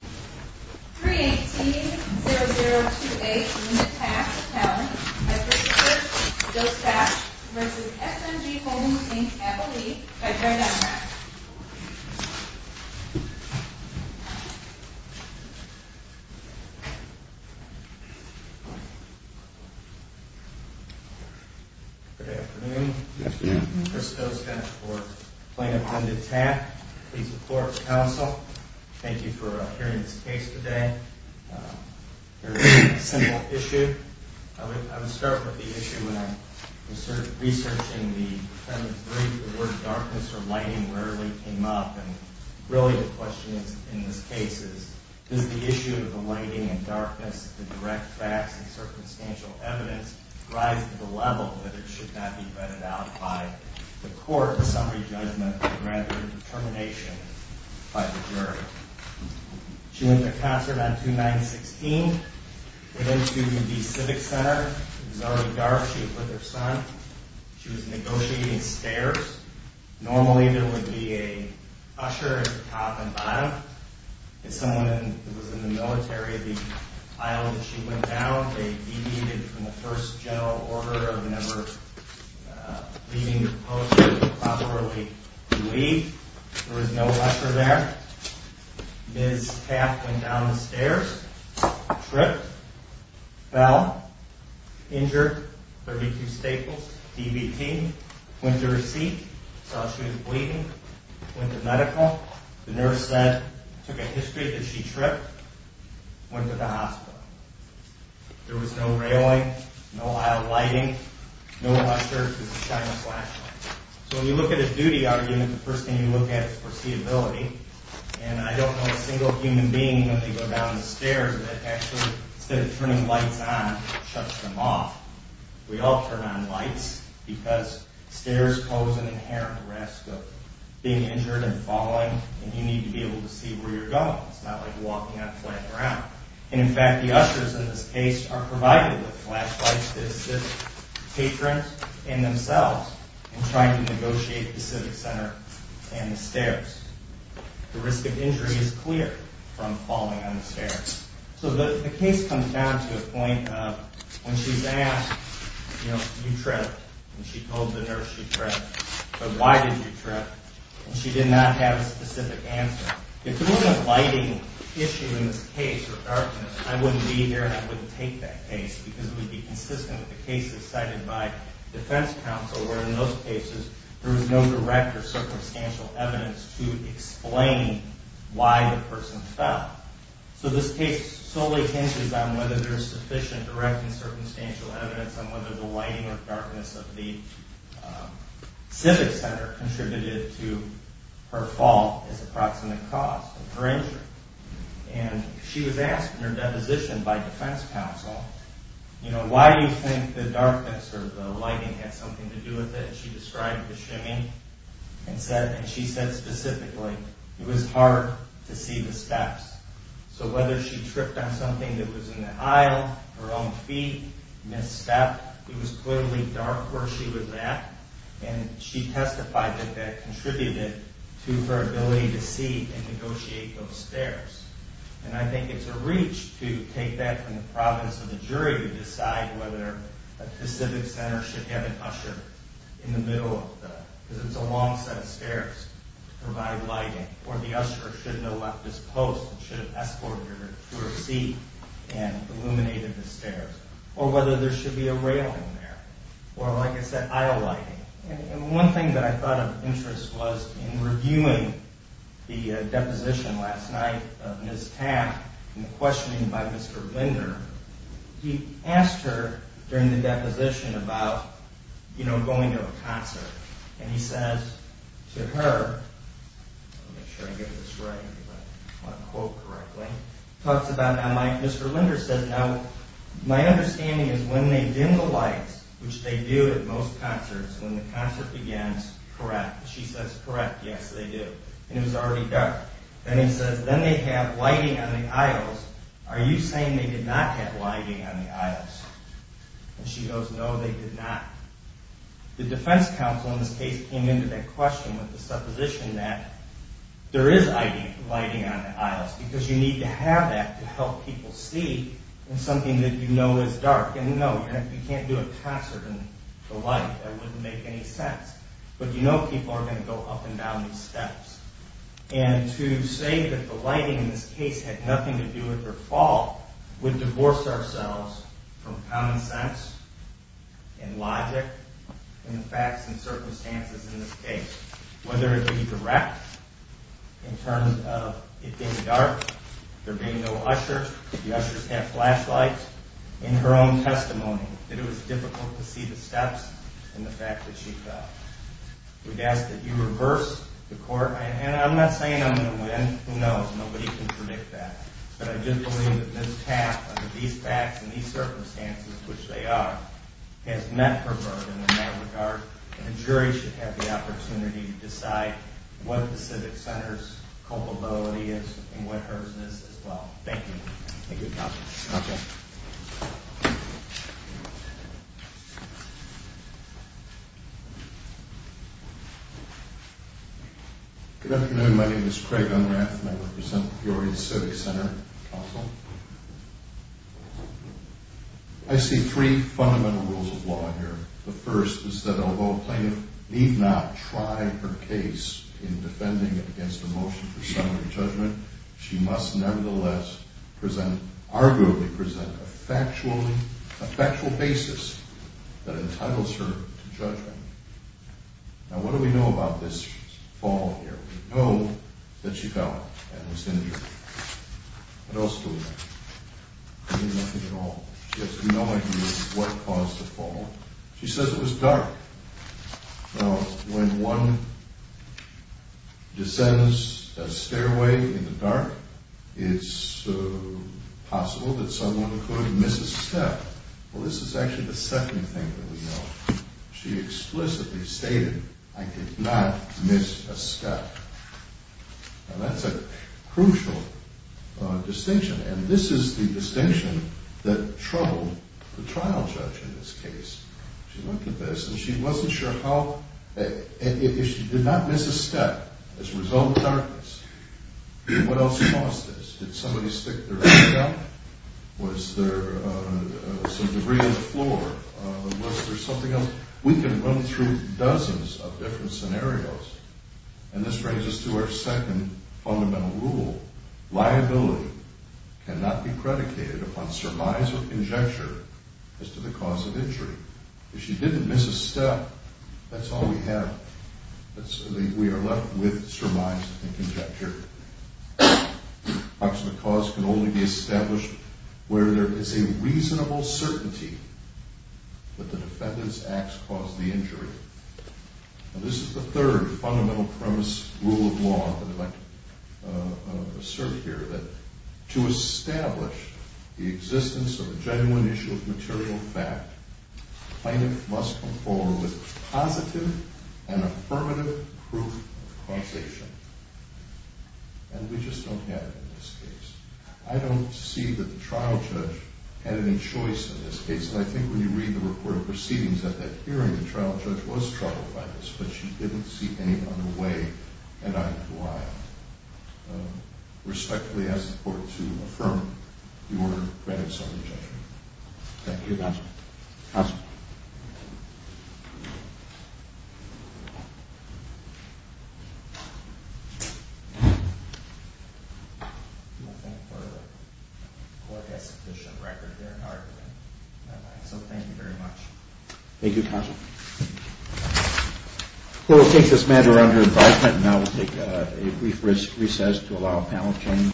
318-0028 Linda Taft Attorney v. Chris Dostach v. SMG Holdings Inc. Appellee by joint address Good afternoon, this is Chris Dostach for Plaintiff Linda Taft Please support counsel. Thank you for hearing this case today. Very simple issue. I would start with the issue when I was researching the defendant's brief. The word darkness or lighting rarely came up and really the question in this case is does the issue of the lighting and darkness, the direct facts and circumstantial evidence rise to the level that it should not be vetted out by the court for summary judgment rather than determination by the jury. She went to concert on June 9, 2016. Went into the Civic Center. It was already dark. She was with her son. She was negotiating stairs. Normally there would be an usher at the top and bottom. It was someone who was in the military, the aisle that she went down. They deviated from the first general order of never leaving the post and properly leave. There was no usher there. Ms. Taft went down the stairs. Tripped. Fell. Injured. 32 staples. DVT. Went to her seat. Saw she was bleeding. Went to medical. The nurse said it took a history that she tripped. Went to the hospital. There was no railing. No aisle lighting. No usher. Just a shiny flashlight. So when you look at a duty argument, the first thing you look at is foreseeability. And I don't know a single human being when they go down the stairs that actually instead of turning lights on, shuts them off. We all turn on lights because stairs pose an inherent risk of being injured and falling. And you need to be able to see where you're going. It's not like walking on flat ground. And in fact, the ushers in this case are provided with flashlights to assist patrons and themselves in trying to negotiate the Civic Center and the stairs. The risk of injury is clear from falling on the stairs. So the case comes down to a point of when she's asked, you know, you tripped. And she told the nurse she tripped. But why did you trip? And she did not have a specific answer. If there was a lighting issue in this case, or darkness, I wouldn't be here and I wouldn't take that case. Because it would be consistent with the cases cited by defense counsel where in those cases there was no direct or circumstantial evidence to explain why the person fell. So this case solely hinges on whether there is sufficient direct and circumstantial evidence on whether the lighting or darkness of the Civic Center contributed to her fall as a proximate cause of her injury. And she was asked in her deposition by defense counsel, you know, why do you think the darkness or the lighting had something to do with it? And she said specifically, it was hard to see the steps. So whether she tripped on something that was in the aisle, her own feet, misstepped, it was clearly dark where she was at. And she testified that that contributed to her ability to see and negotiate those stairs. And I think it's a reach to take that from the province of the jury to decide whether the Civic Center should have an usher in the middle of the, because it's a long set of stairs to provide lighting. Or the usher should have left his post and should have escorted her to her seat and illuminated the stairs. Or whether there should be a railing there. Or like I said, aisle lighting. And one thing that I thought of interest was in reviewing the deposition last night of Ms. Tapp and the questioning by Mr. Linder. He asked her during the deposition about, you know, going to a concert. And he says to her, I want to make sure I get this right, if I quote correctly. Mr. Linder says, now my understanding is when they dim the lights, which they do at most concerts, when the concert begins, correct. She says, correct, yes they do. And it was already dark. Then he says, then they have lighting on the aisles. Are you saying they did not have lighting on the aisles? And she goes, no they did not. The defense counsel in this case came into that question with the supposition that there is lighting on the aisles. Because you need to have that to help people see in something that you know is dark. And no, you can't do a concert in the light. That wouldn't make any sense. But you know people are going to go up and down these steps. And to say that the lighting in this case had nothing to do with her fault would divorce ourselves from common sense and logic in the facts and circumstances in this case. Whether it be direct, in terms of it being dark, there being no usher, the ushers had flashlights. In her own testimony, that it was difficult to see the steps and the fact that she fell. We'd ask that you reverse the court. And I'm not saying I'm going to win. Who knows? Nobody can predict that. But I just believe that this task, under these facts and these circumstances, which they are, has met her burden in that regard. And the jury should have the opportunity to decide what the civic center's culpability is and what hers is as well. Thank you. Thank you counsel. Good afternoon. My name is Craig Unrath and I represent Peoria Civic Center. I see three fundamental rules of law here. The first is that although a plaintiff need not try her case in defending it against a motion for summary judgment, she must nevertheless present, arguably present, a factual basis that entitles her to judgment. Now what do we know about this fall here? We know that she fell and was injured. What else do we know? We know nothing at all. She has no idea what caused the fall. She says it was dark. Now when one descends a stairway in the dark, it's possible that someone could miss a step. Well this is actually the second thing that we know. She explicitly stated, I did not miss a step. Now that's a crucial distinction. And this is the distinction that troubled the trial judge in this case. She looked at this and she wasn't sure how, if she did not miss a step as a result of darkness, what else caused this? Did somebody stick their head out? Was there some debris on the floor? Was there something else? We can run through dozens of different scenarios and this brings us to our second fundamental rule. Liability cannot be predicated upon surmise or conjecture as to the cause of injury. If she didn't miss a step, that's all we have. We are left with surmise and conjecture. The cause can only be established where there is a reasonable certainty that the defendant's acts caused the injury. Now this is the third fundamental premise rule of law that I'd like to assert here, that to establish the existence of a genuine issue of material fact, the plaintiff must come forward with positive and affirmative proof of causation. And we just don't have it in this case. I don't see that the trial judge had any choice in this case. And I think when you read the report of proceedings at that hearing, the trial judge was troubled by this, but she didn't see any other way, and I would respectfully ask the court to affirm your credits on the judgment. Thank you. Thank you, Counselor. Counselor? I thank the court for the court expedition record they're arguing. So thank you very much. Thank you, Counselor. Well, we'll take this matter under advisement, and now we'll take a brief recess to allow panel change.